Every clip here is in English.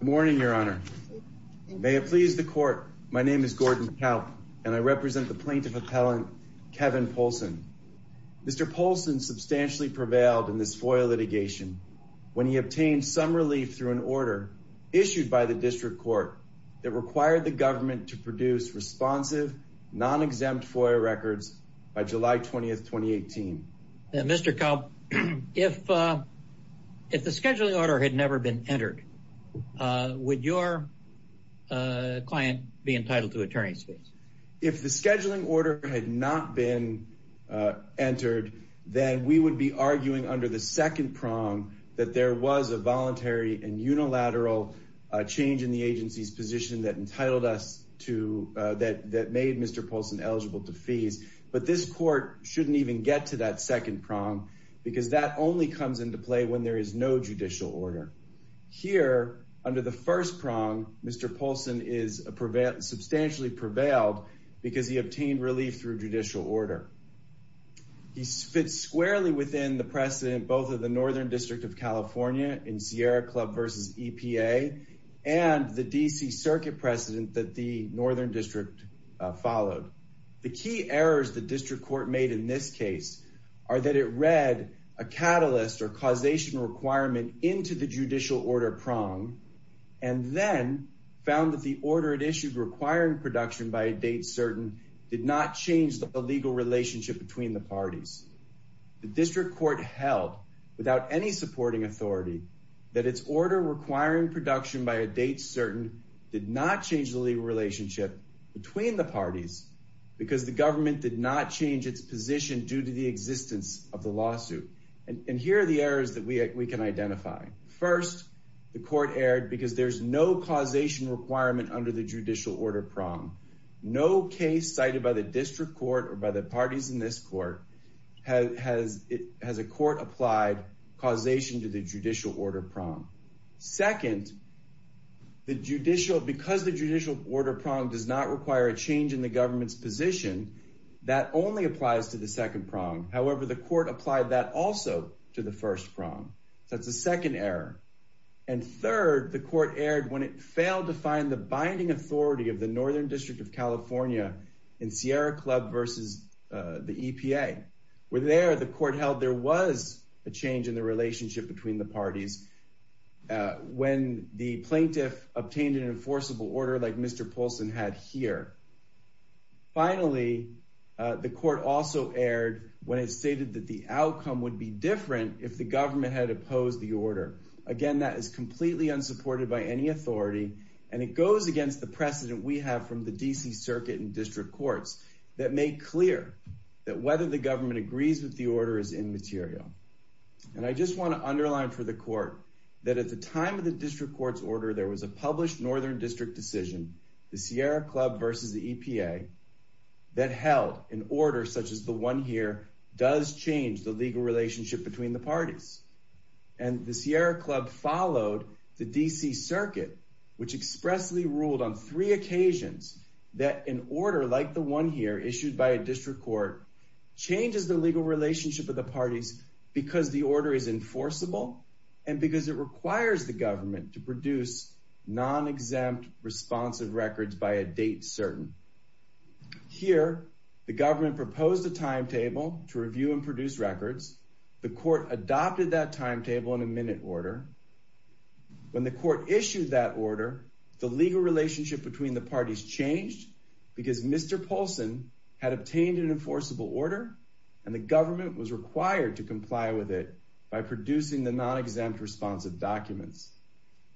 Good morning, Your Honor. May it please the Court, my name is Gordon Kalp and I represent the plaintiff appellant Kevin Poulsen. Mr. Poulsen substantially prevailed in this FOIA litigation when he obtained some relief through an order issued by the District Court that required the government to produce responsive, non-exempt FOIA records by July 20, 2018. Mr. Kalp, if the scheduling order had never been entered, would your client be entitled to attorney's fees? because that only comes into play when there is no judicial order. Here, under the first prong, Mr. Poulsen is substantially prevailed because he obtained relief through judicial order. He fits squarely within the precedent both of the Northern District of California in Sierra Club v. EPA and the D.C. Circuit precedent that the Northern District followed. The key errors the District Court made in this case are that it read a catalyst or causation requirement into the judicial order prong and then found that the order it issued requiring production by a date certain did not change the legal relationship between the parties. The District Court held, without any supporting authority, that its order requiring production by a date certain did not change the legal relationship between the parties because the government did not change its position due to the existence of the lawsuit. And here are the errors that we can identify. First, the court erred because there's no causation requirement under the judicial order prong. No case cited by the District Court or by the parties in this court has a court applied causation to the judicial order prong. Second, because the judicial order prong does not require a change in the government's position, that only applies to the second prong. However, the court applied that also to the first prong. That's the second error. And third, the court erred when it failed to find the binding authority of the Northern District of California in Sierra Club versus the EPA. Where there, the court held there was a change in the relationship between the parties when the plaintiff obtained an enforceable order like Mr. Polson had here. Finally, the court also erred when it stated that the outcome would be different if the government had opposed the order. Again, that is completely unsupported by any authority, and it goes against the precedent we have from the D.C. Circuit and District Courts that make clear that whether the government agrees with the order is immaterial. And I just want to underline for the court that at the time of the District Court's order, there was a published Northern District decision, the Sierra Club versus the EPA, that held an order such as the one here does change the legal relationship between the parties. And the Sierra Club followed the D.C. Circuit, which expressly ruled on three occasions that an order like the one here issued by a District Court changes the legal relationship of the parties because the order is enforceable and because it requires the government to produce non-exempt responsive records by a date certain. Here, the government proposed a timetable to review and produce records. The court adopted that timetable in a minute order. When the court issued that order, the legal relationship between the parties changed because Mr. Polson had obtained an enforceable order and the government was required to comply with it by producing the non-exempt responsive documents.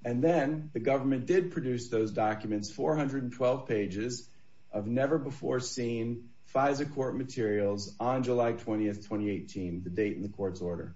And then the government did produce those documents, 412 pages of never-before-seen FISA court materials on July 20, 2018, the date in the court's order.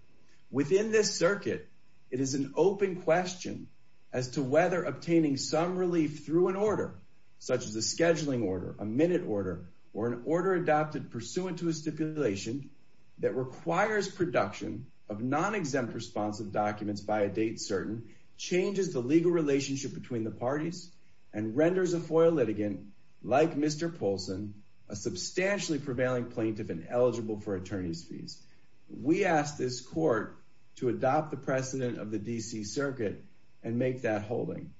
Within this circuit, it is an open question as to whether obtaining some relief through an order such as a scheduling order, a minute order, or an order adopted pursuant to a stipulation that requires production of non-exempt responsive documents by a date certain changes the legal relationship between the parties and renders a FOIA litigant like Mr. Polson a substantially prevailing plaintiff and eligible for attorney's fees. We ask this court to adopt the precedent of the D.C. circuit and make that holding.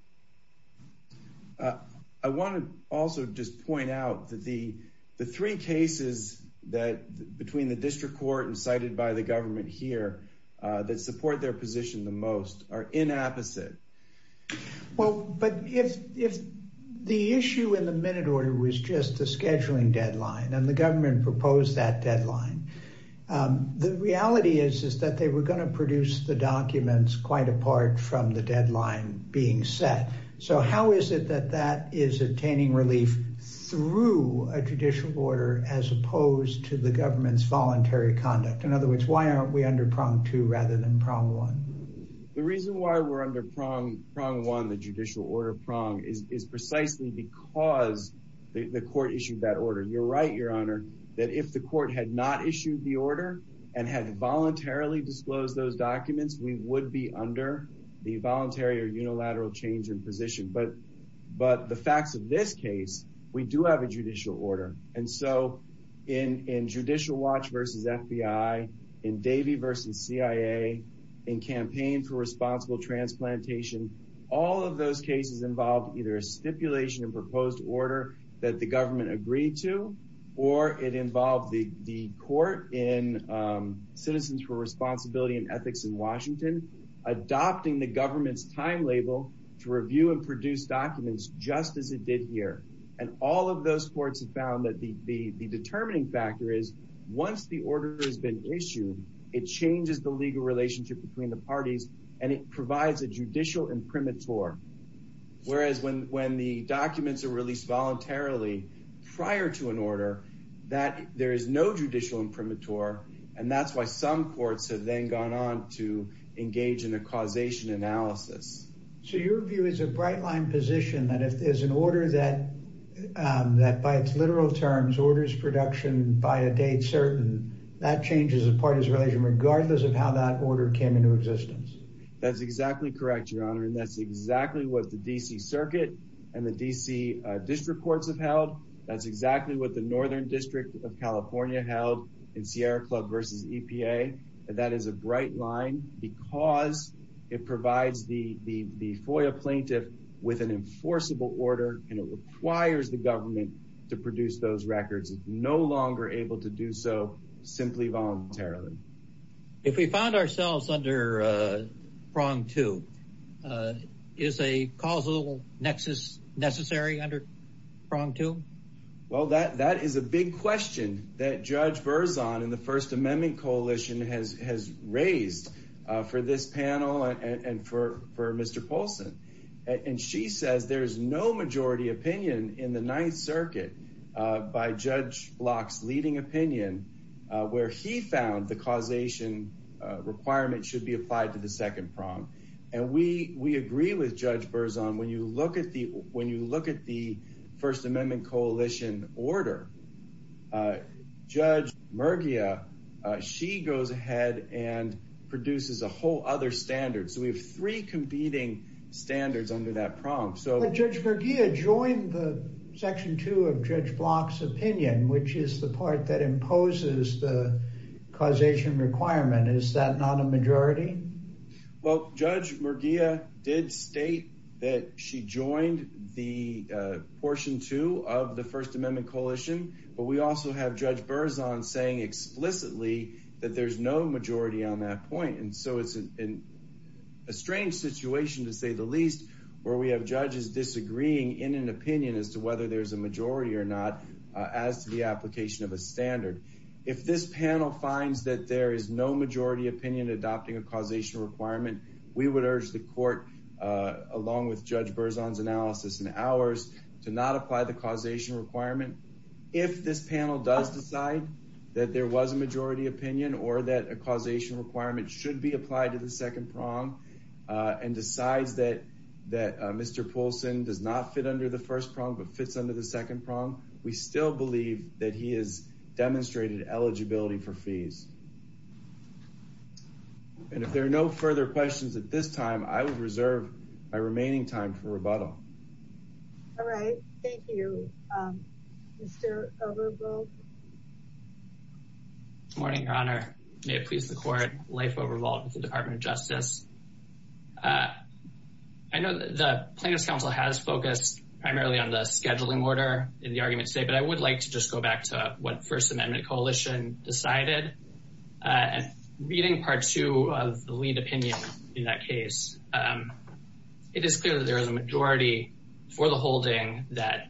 I want to also just point out that the three cases that between the district court and cited by the government here that support their position the most are inapposite. But if the issue in the minute order was just a scheduling deadline and the government proposed that deadline, the reality is that they were going to produce the documents quite apart from the deadline being set. So how is it that that is attaining relief through a judicial order as opposed to the government's voluntary conduct? In other words, why aren't we under prong two rather than prong one? The reason why we're under prong one, the judicial order prong, is precisely because the court issued that order. You're right, Your Honor, that if the court had not issued the order and had voluntarily disclosed those documents, we would be under the voluntary or unilateral change in position. But the facts of this case, we do have a judicial order. And so in Judicial Watch v. FBI, in Davey v. CIA, in Campaign for Responsible Transplantation, all of those cases involved either a stipulation and proposed order that the government agreed to, or it involved the court in Citizens for Responsibility and Ethics in Washington adopting the government's time label to review and produce documents just as it did here. And all of those courts have found that the determining factor is once the order has been issued, it changes the legal relationship between the parties and it provides a judicial imprimatur. Whereas when the documents are released voluntarily prior to an order, there is no judicial imprimatur. And that's why some courts have then gone on to engage in a causation analysis. So your view is a bright line position that if there's an order that, by its literal terms, orders production by a date certain, that changes the parties' relation regardless of how that order came into existence. That's exactly correct, Your Honor. And that's exactly what the D.C. Circuit and the D.C. District Courts have held. That's exactly what the Northern District of California held in Sierra Club v. EPA. And that is a bright line because it provides the FOIA plaintiff with an enforceable order and it requires the government to produce those records. It's no longer able to do so simply voluntarily. If we found ourselves under prong two, is a causal nexus necessary under prong two? Well, that is a big question that Judge Berzon in the First Amendment Coalition has raised for this panel and for Mr. Polson. And she says there is no majority opinion in the Ninth Circuit by Judge Block's leading opinion where he found the causation requirement should be applied to the second prong. And we agree with Judge Berzon. When you look at the First Amendment Coalition order, Judge Mergia, she goes ahead and produces a whole other standard. So we have three competing standards under that prong. But Judge Mergia joined the section two of Judge Block's opinion, which is the part that imposes the causation requirement. Is that not a majority? Well, Judge Mergia did state that she joined the portion two of the First Amendment Coalition. But we also have Judge Berzon saying explicitly that there's no majority on that point. And so it's a strange situation, to say the least, where we have judges disagreeing in an opinion as to whether there's a majority or not as to the application of a standard. If this panel finds that there is no majority opinion adopting a causation requirement, we would urge the court, along with Judge Berzon's analysis and ours, to not apply the causation requirement. If this panel does decide that there was a majority opinion or that a causation requirement should be applied to the second prong and decides that Mr. Poulsen does not fit under the first prong but fits under the second prong, we still believe that he has demonstrated eligibility for fees. And if there are no further questions at this time, I would reserve my remaining time for rebuttal. All right. Thank you, Mr. Overbold. Good morning, Your Honor. May it please the court, Leif Overbold with the Department of Justice. I know the Plaintiffs' Council has focused primarily on the scheduling order in the argument today, but I would like to just go back to what First Amendment Coalition decided. And reading Part 2 of the lead opinion in that case, it is clear that there is a majority for the holding that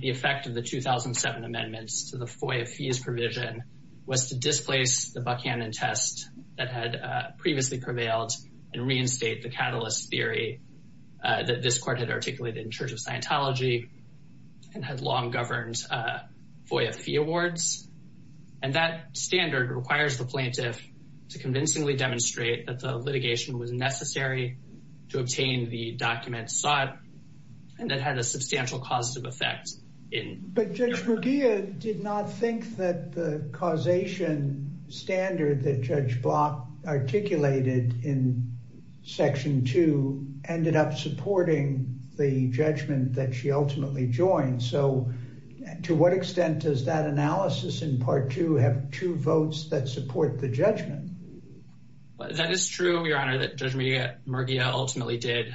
the effect of the 2007 amendments to the FOIA fees provision was to displace the Buckhannon test that had previously prevailed and reinstate the catalyst theory that this court had articulated in Church of Scientology and had long governed FOIA fee awards. And that standard requires the plaintiff to convincingly demonstrate that the litigation was necessary to obtain the documents sought and that had a substantial causative effect. But Judge Mugia did not think that the causation standard that Judge Block articulated in Section 2 ended up supporting the judgment that she ultimately joined. So to what extent does that analysis in Part 2 have true votes that support the judgment? That is true, Your Honor, that Judge Mugia ultimately did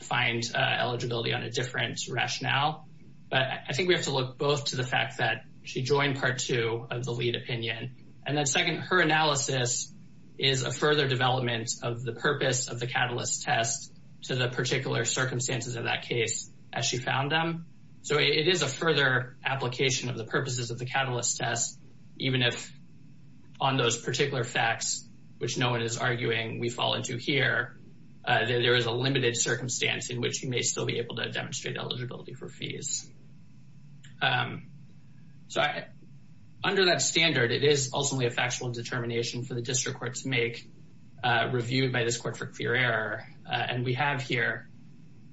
find eligibility on a different rationale. But I think we have to look both to the fact that she joined Part 2 of the lead opinion. And then second, her analysis is a further development of the purpose of the catalyst test to the particular circumstances of that case as she found them. So it is a further application of the purposes of the catalyst test, even if on those particular facts, which no one is arguing we fall into here, there is a limited circumstance in which you may still be able to demonstrate eligibility for fees. So under that standard, it is ultimately a factual determination for the district court to make reviewed by this court for clear error. And we have here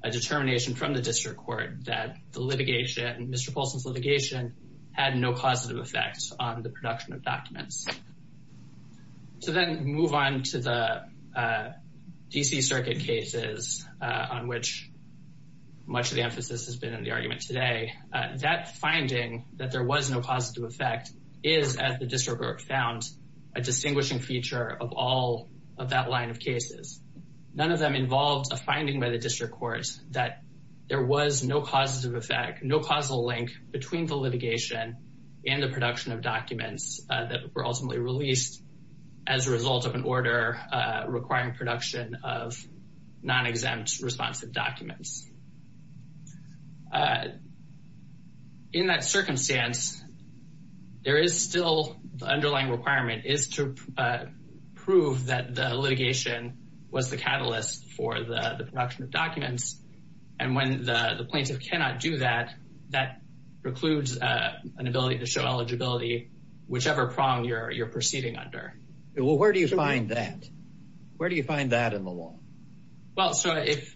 a determination from the district court that the litigation, Mr. Polson's litigation, had no causative effects on the production of documents. So then move on to the D.C. Circuit cases on which much of the emphasis has been in the argument today. That finding that there was no causative effect is, as the district court found, a distinguishing feature of all of that line of cases. None of them involved a finding by the district court that there was no causative effect, no causal link between the litigation and the production of documents that were ultimately released as a result of an order requiring production of non-exempt responsive documents. In that circumstance, there is still the underlying requirement is to prove that the litigation was the catalyst for the production of documents. And when the plaintiff cannot do that, that precludes an ability to show eligibility, whichever prong you're proceeding under. Well, where do you find that? Where do you find that in the law? Well, so if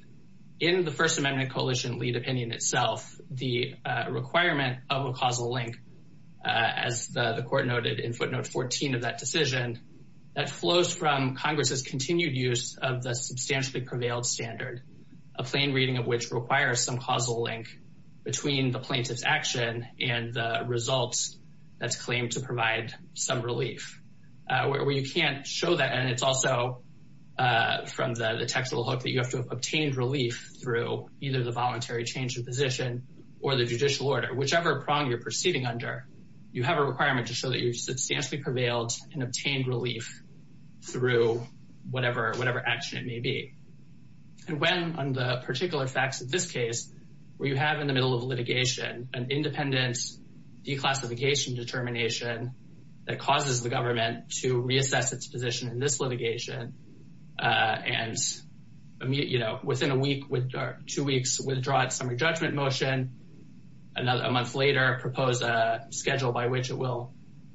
in the First Amendment Coalition lead opinion itself, the requirement of a causal link, as the court noted in footnote 14 of that decision, that flows from Congress's continued use of the substantially prevailed standard, a plain reading of which requires some causal link between the plaintiff's action and the results that's claimed to provide some relief. Where you can't show that, and it's also from the textual hook that you have to have obtained relief through either the voluntary change of position or the judicial order. Whichever prong you're proceeding under, you have a requirement to show that you've substantially prevailed and obtained relief through whatever action it may be. And when, on the particular facts of this case, where you have in the middle of litigation an independent declassification determination that causes the government to reassess its position in this litigation, and, you know, within a week or two weeks, withdraw its summary judgment motion, a month later, propose a schedule by which it will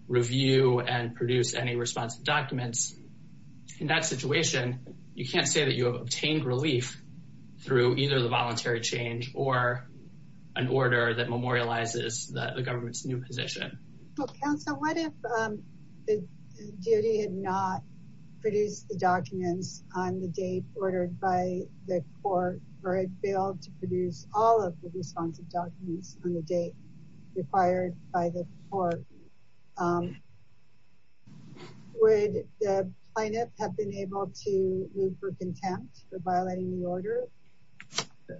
review and produce any responsive documents. In that situation, you can't say that you have obtained relief through either the voluntary change or an order that memorializes the government's new position. Well, counsel, what if the DOD had not produced the documents on the date ordered by the court, or it failed to produce all of the responsive documents on the date required by the court? Would the plaintiff have been able to move for contempt for violating the order?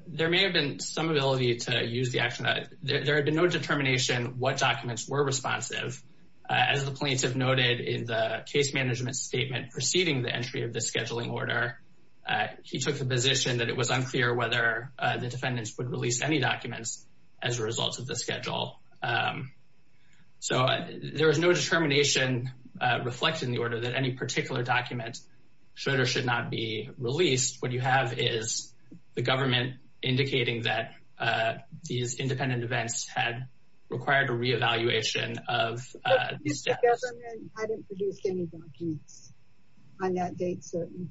There may have been some ability to use the action. There had been no determination what documents were responsive. As the plaintiff noted in the case management statement preceding the entry of the scheduling order, he took the position that it was unclear whether the defendants would release any documents as a result of the schedule. So there was no determination reflected in the order that any particular document should or should not be released. What you have is the government indicating that these independent events had required a re-evaluation of the status. What if the government hadn't produced any documents on that date certain?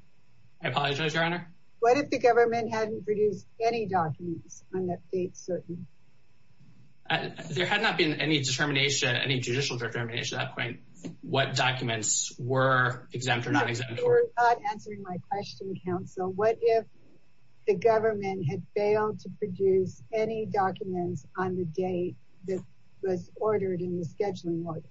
I apologize, Your Honor? What if the government hadn't produced any documents on that date certain? There had not been any judicial determination at that point what documents were exempt or not exempt. You're not answering my question, counsel. What if the government had failed to produce any documents on the date that was ordered in the scheduling order?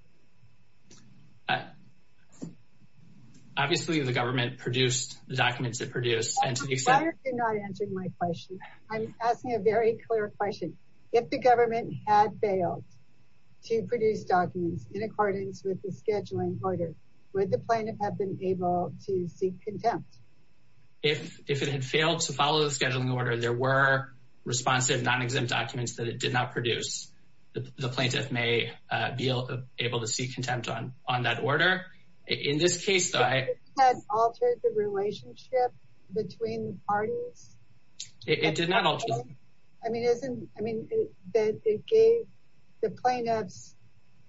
Obviously, the government produced the documents it produced. You're not answering my question. I'm asking a very clear question. If the government had failed to produce documents in accordance with the scheduling order, would the plaintiff have been able to seek contempt? If it had failed to follow the scheduling order, there were responsive non-exempt documents that it did not produce. The plaintiff may be able to seek contempt on that order. If it had altered the relationship between the parties? It did not alter. I mean, it gave the plaintiffs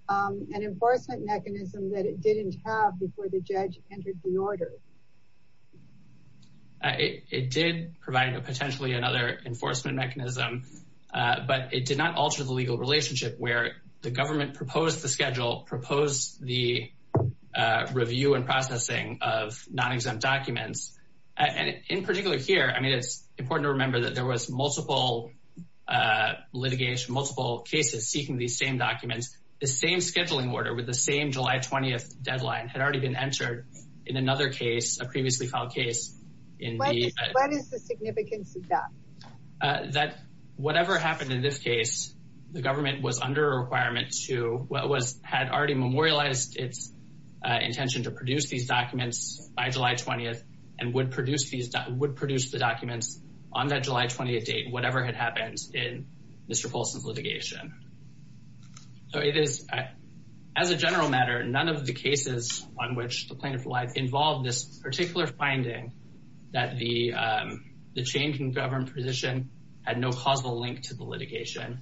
an enforcement mechanism that it didn't have before the judge entered the order. It did provide potentially another enforcement mechanism. But it did not alter the legal relationship where the government proposed the schedule, proposed the review and processing of non-exempt documents. And in particular here, I mean, it's important to remember that there was multiple litigation, multiple cases seeking these same documents. The same scheduling order with the same July 20th deadline had already been entered in another case, a previously filed case. What is the significance of that? That whatever happened in this case, the government was under a requirement to what had already memorialized its intention to produce these documents by July 20th and would produce the documents on that July 20th date, whatever had happened in Mr. Polson's litigation. So it is, as a general matter, none of the cases on which the plaintiff lied involved this particular finding that the change in government position had no causal link to the litigation.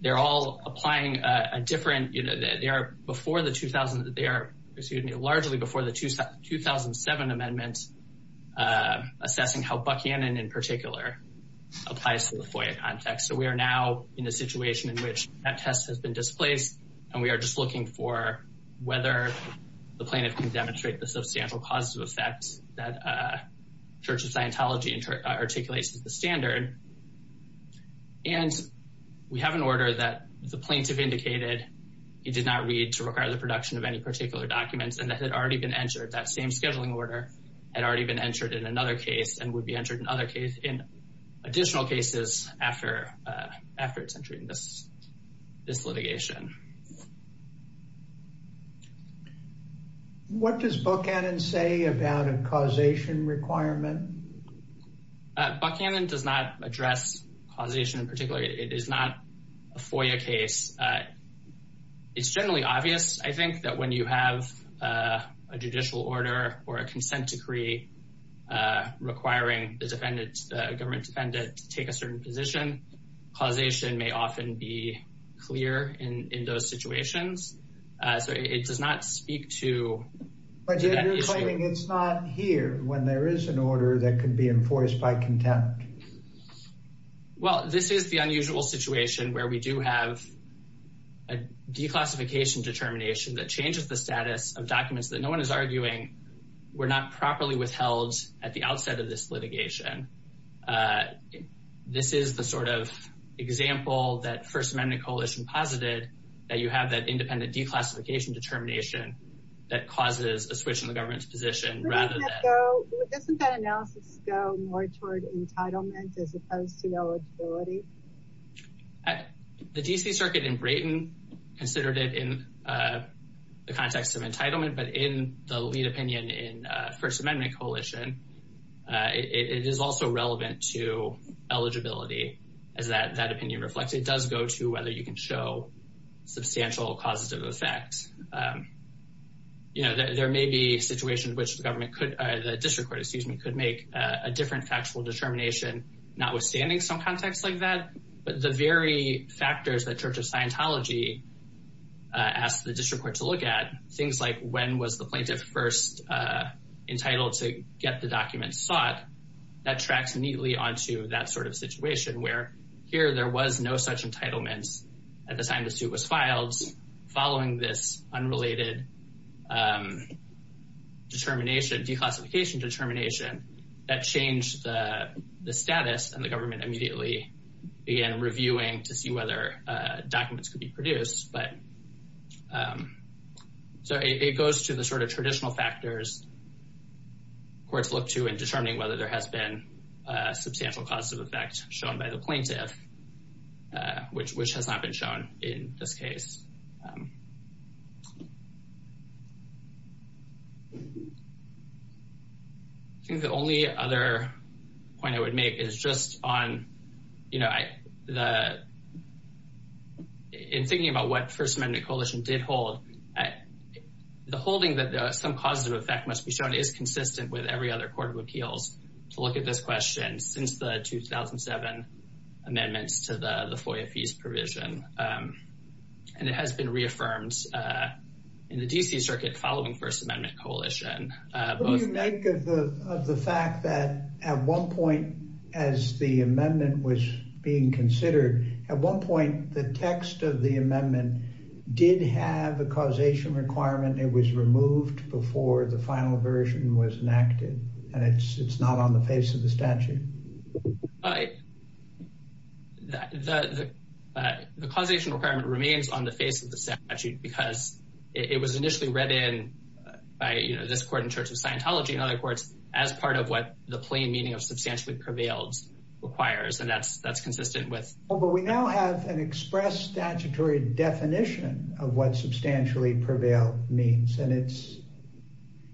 They're all applying a different, you know, they are before the 2000, they are, excuse me, largely before the 2007 amendments assessing how Buckhannon in particular applies to the FOIA context. So we are now in a situation in which that test has been displaced and we are just looking for whether the plaintiff can demonstrate the substantial causes of effects that Church of Scientology articulates as the standard. And we have an order that the plaintiff indicated he did not read to require the production of any particular documents and that had already been entered. That same scheduling order had already been entered in another case and would be entered in other case in additional cases after its entry in this litigation. What does Buckhannon say about a causation requirement? Buckhannon does not address causation in particular. It is not a FOIA case. It's generally obvious, I think, that when you have a judicial order or a consent decree requiring the government defendant to take a certain position, causation may often be clear in those situations. So it does not speak to that issue. But you're claiming it's not here when there is an order that could be enforced by contempt. Well, this is the unusual situation where we do have a declassification determination that changes the status of documents that no one is arguing were not properly withheld at the outset of this litigation. This is the sort of example that First Amendment Coalition posited that you have that independent declassification determination that causes a switch in the government's position rather than... ...entitlement as opposed to eligibility? The D.C. Circuit in Brayton considered it in the context of entitlement, but in the lead opinion in First Amendment Coalition, it is also relevant to eligibility as that opinion reflects. It does go to whether you can show substantial causative effect. There may be a situation in which the district court could make a different factual determination notwithstanding some context like that. But the very factors that Church of Scientology asked the district court to look at, things like when was the plaintiff first entitled to get the documents sought, that tracks neatly onto that sort of situation where here there was no such entitlement at the time the suit was filed. Following this unrelated declassification determination, that changed the status and the government immediately began reviewing to see whether documents could be produced. It goes to the sort of traditional factors courts look to in determining whether there has been a substantial causative effect shown by the plaintiff, which has not been shown in this case. I think the only other point I would make is just on, you know, in thinking about what First Amendment Coalition did hold, the holding that some causative effect must be shown is consistent with every other court of appeals to look at this question since the 2007 amendments to the FOIA fees provision. And it has been reaffirmed in the D.C. circuit following First Amendment Coalition. What do you make of the fact that at one point as the amendment was being considered, at one point the text of the amendment did have a causation requirement. It was removed before the final version was enacted. And it's not on the face of the statute. The causation requirement remains on the face of the statute because it was initially read in by, you know, this court in Church of Scientology and other courts as part of what the plain meaning of substantially prevails requires. And that's that's consistent with. But we now have an express statutory definition of what substantially prevail means. And it's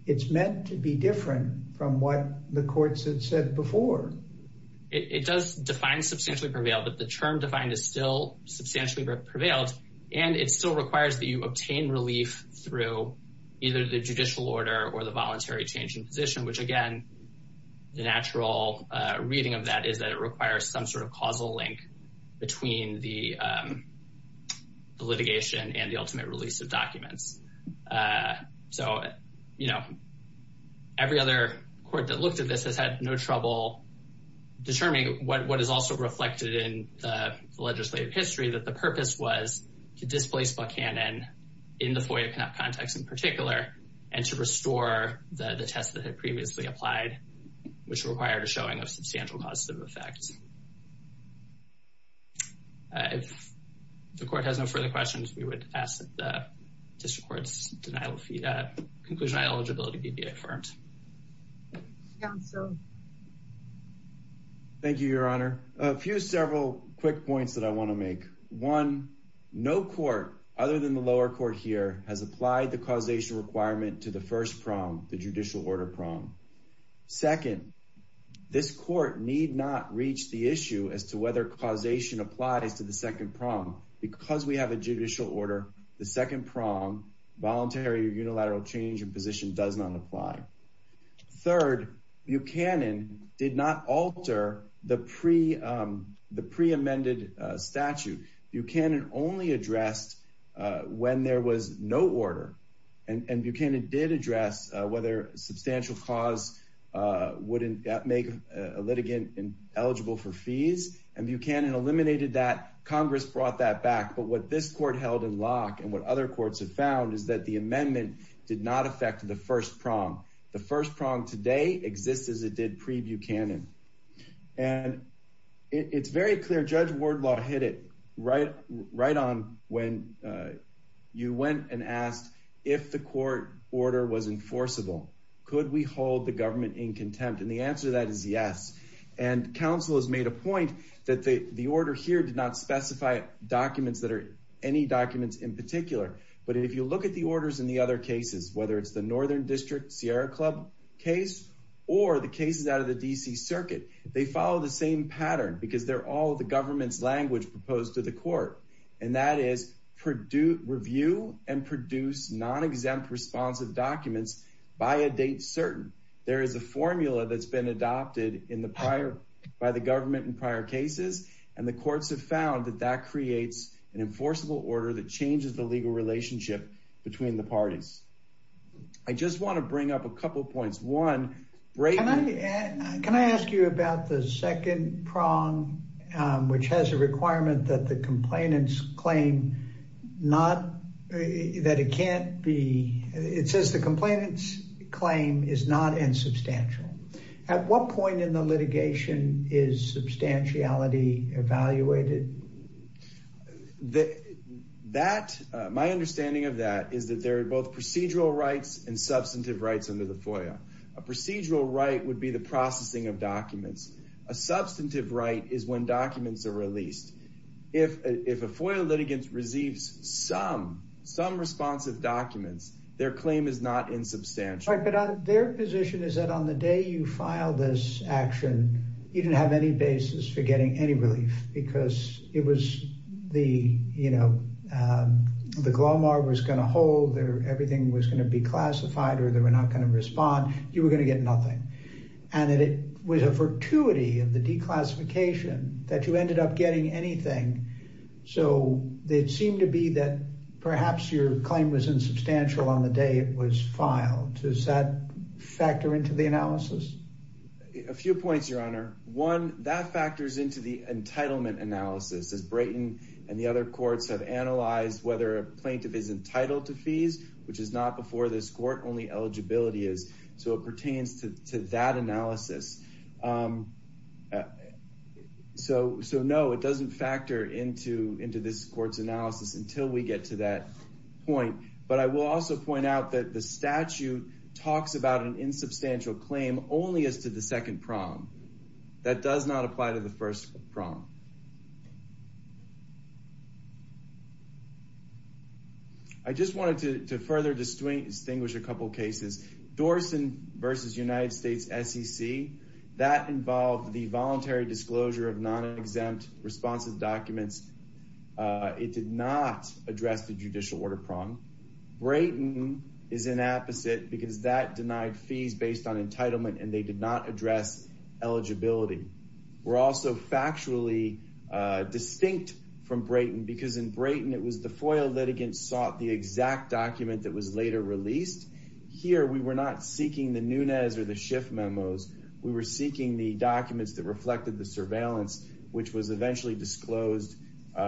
it's meant to be different from what the courts had said before. It does define substantially prevail, but the term defined is still substantially prevailed. And it still requires that you obtain relief through either the judicial order or the voluntary change in position, which, again, the natural reading of that is that it requires some sort of causal link between the litigation and the ultimate release of documents. So, you know. Every other court that looked at this has had no trouble determining what is also reflected in the legislative history that the purpose was to displace Buchanan in the FOIA context in particular and to restore the test that had previously applied, which required a showing of substantial causative effects. If the court has no further questions, we would ask that the district court's denial of conclusion eligibility be affirmed. Thank you, Your Honor. A few several quick points that I want to make. One, no court other than the lower court here has applied the causation requirement to the first prong, the judicial order prong. Second, this court need not reach the issue as to whether causation applies to the second prong. Because we have a judicial order, the second prong, voluntary or unilateral change in position, does not apply. Third, Buchanan did not alter the pre-amended statute. Buchanan only addressed when there was no order. And Buchanan did address whether substantial cause wouldn't make a litigant eligible for fees. And Buchanan eliminated that. Congress brought that back. But what this court held in lock and what other courts have found is that the amendment did not affect the first prong. The first prong today exists as it did pre-Buchanan. And it's very clear Judge Wardlaw hit it right on when you went and asked if the court order was enforceable. Could we hold the government in contempt? And the answer to that is yes. And counsel has made a point that the order here did not specify documents that are any documents in particular. But if you look at the orders in the other cases, whether it's the Northern District Sierra Club case or the cases out of the D.C. Circuit, they follow the same pattern because they're all the government's language proposed to the court. And that is review and produce non-exempt responsive documents by a date certain. There is a formula that's been adopted by the government in prior cases. And the courts have found that that creates an enforceable order that changes the legal relationship between the parties. I just want to bring up a couple of points. One, can I ask you about the second prong, which has a requirement that the complainants claim not that it can't be. It says the complainants claim is not insubstantial. At what point in the litigation is substantiality evaluated? That my understanding of that is that there are both procedural rights and substantive rights under the FOIA. A procedural right would be the processing of documents. A substantive right is when documents are released. If if a FOIA litigant receives some some responsive documents, their claim is not insubstantial. But their position is that on the day you file this action, you didn't have any basis for getting any relief because it was the, you know, the Glomar was going to hold there. Everything was going to be classified or they were not going to respond. You were going to get nothing. And it was a fortuity of the declassification that you ended up getting anything. So they seem to be that perhaps your claim was insubstantial on the day it was filed. Does that factor into the analysis? A few points, Your Honor. One, that factors into the entitlement analysis. As Brayton and the other courts have analyzed whether a plaintiff is entitled to fees, which is not before this court, only eligibility is. So it pertains to that analysis. So so no, it doesn't factor into into this court's analysis until we get to that point. But I will also point out that the statute talks about an insubstantial claim only as to the second prong. That does not apply to the first prong. I just wanted to further distinguish a couple of cases. Dorsen versus United States SEC. That involved the voluntary disclosure of non-exempt responsive documents. It did not address the judicial order prong. Brayton is an apposite because that denied fees based on entitlement and they did not address eligibility. We're also factually distinct from Brayton because in Brayton, it was the FOIA litigants sought the exact document that was later released. Here, we were not seeking the Nunez or the Schiff memos. We were seeking the documents that reflected the surveillance, which was eventually disclosed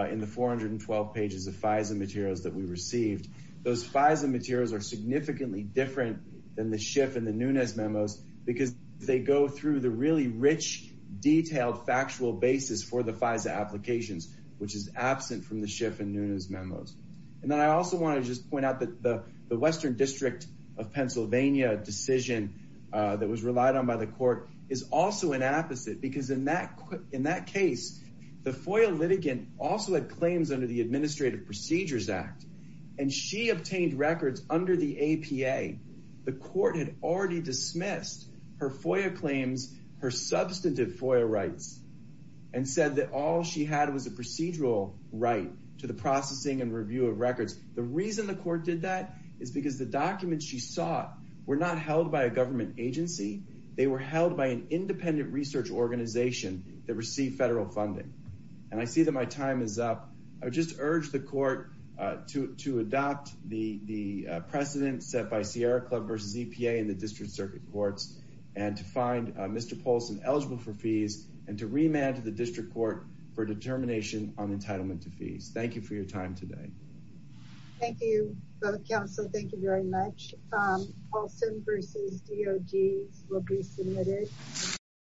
in the 412 pages of FISA materials that we received. Those FISA materials are significantly different than the Schiff and the Nunez memos because they go through the really rich, detailed, factual basis for the FISA applications, which is absent from the Schiff and Nunez memos. I also want to just point out that the Western District of Pennsylvania decision that was relied on by the court is also an apposite because in that case, the FOIA litigant also had claims under the Administrative Procedures Act. And she obtained records under the APA. The court had already dismissed her FOIA claims, her substantive FOIA rights, and said that all she had was a procedural right to the processing and review of records. The reason the court did that is because the documents she sought were not held by a government agency. They were held by an independent research organization that received federal funding. And I see that my time is up. I would just urge the court to adopt the precedent set by Sierra Club v. EPA and the District Circuit Courts and to find Mr. Polson eligible for fees and to remand to the District Court for determination on entitlement to fees. Thank you for your time today. Thank you. Council, thank you very much. Polson v. DOD will be submitted.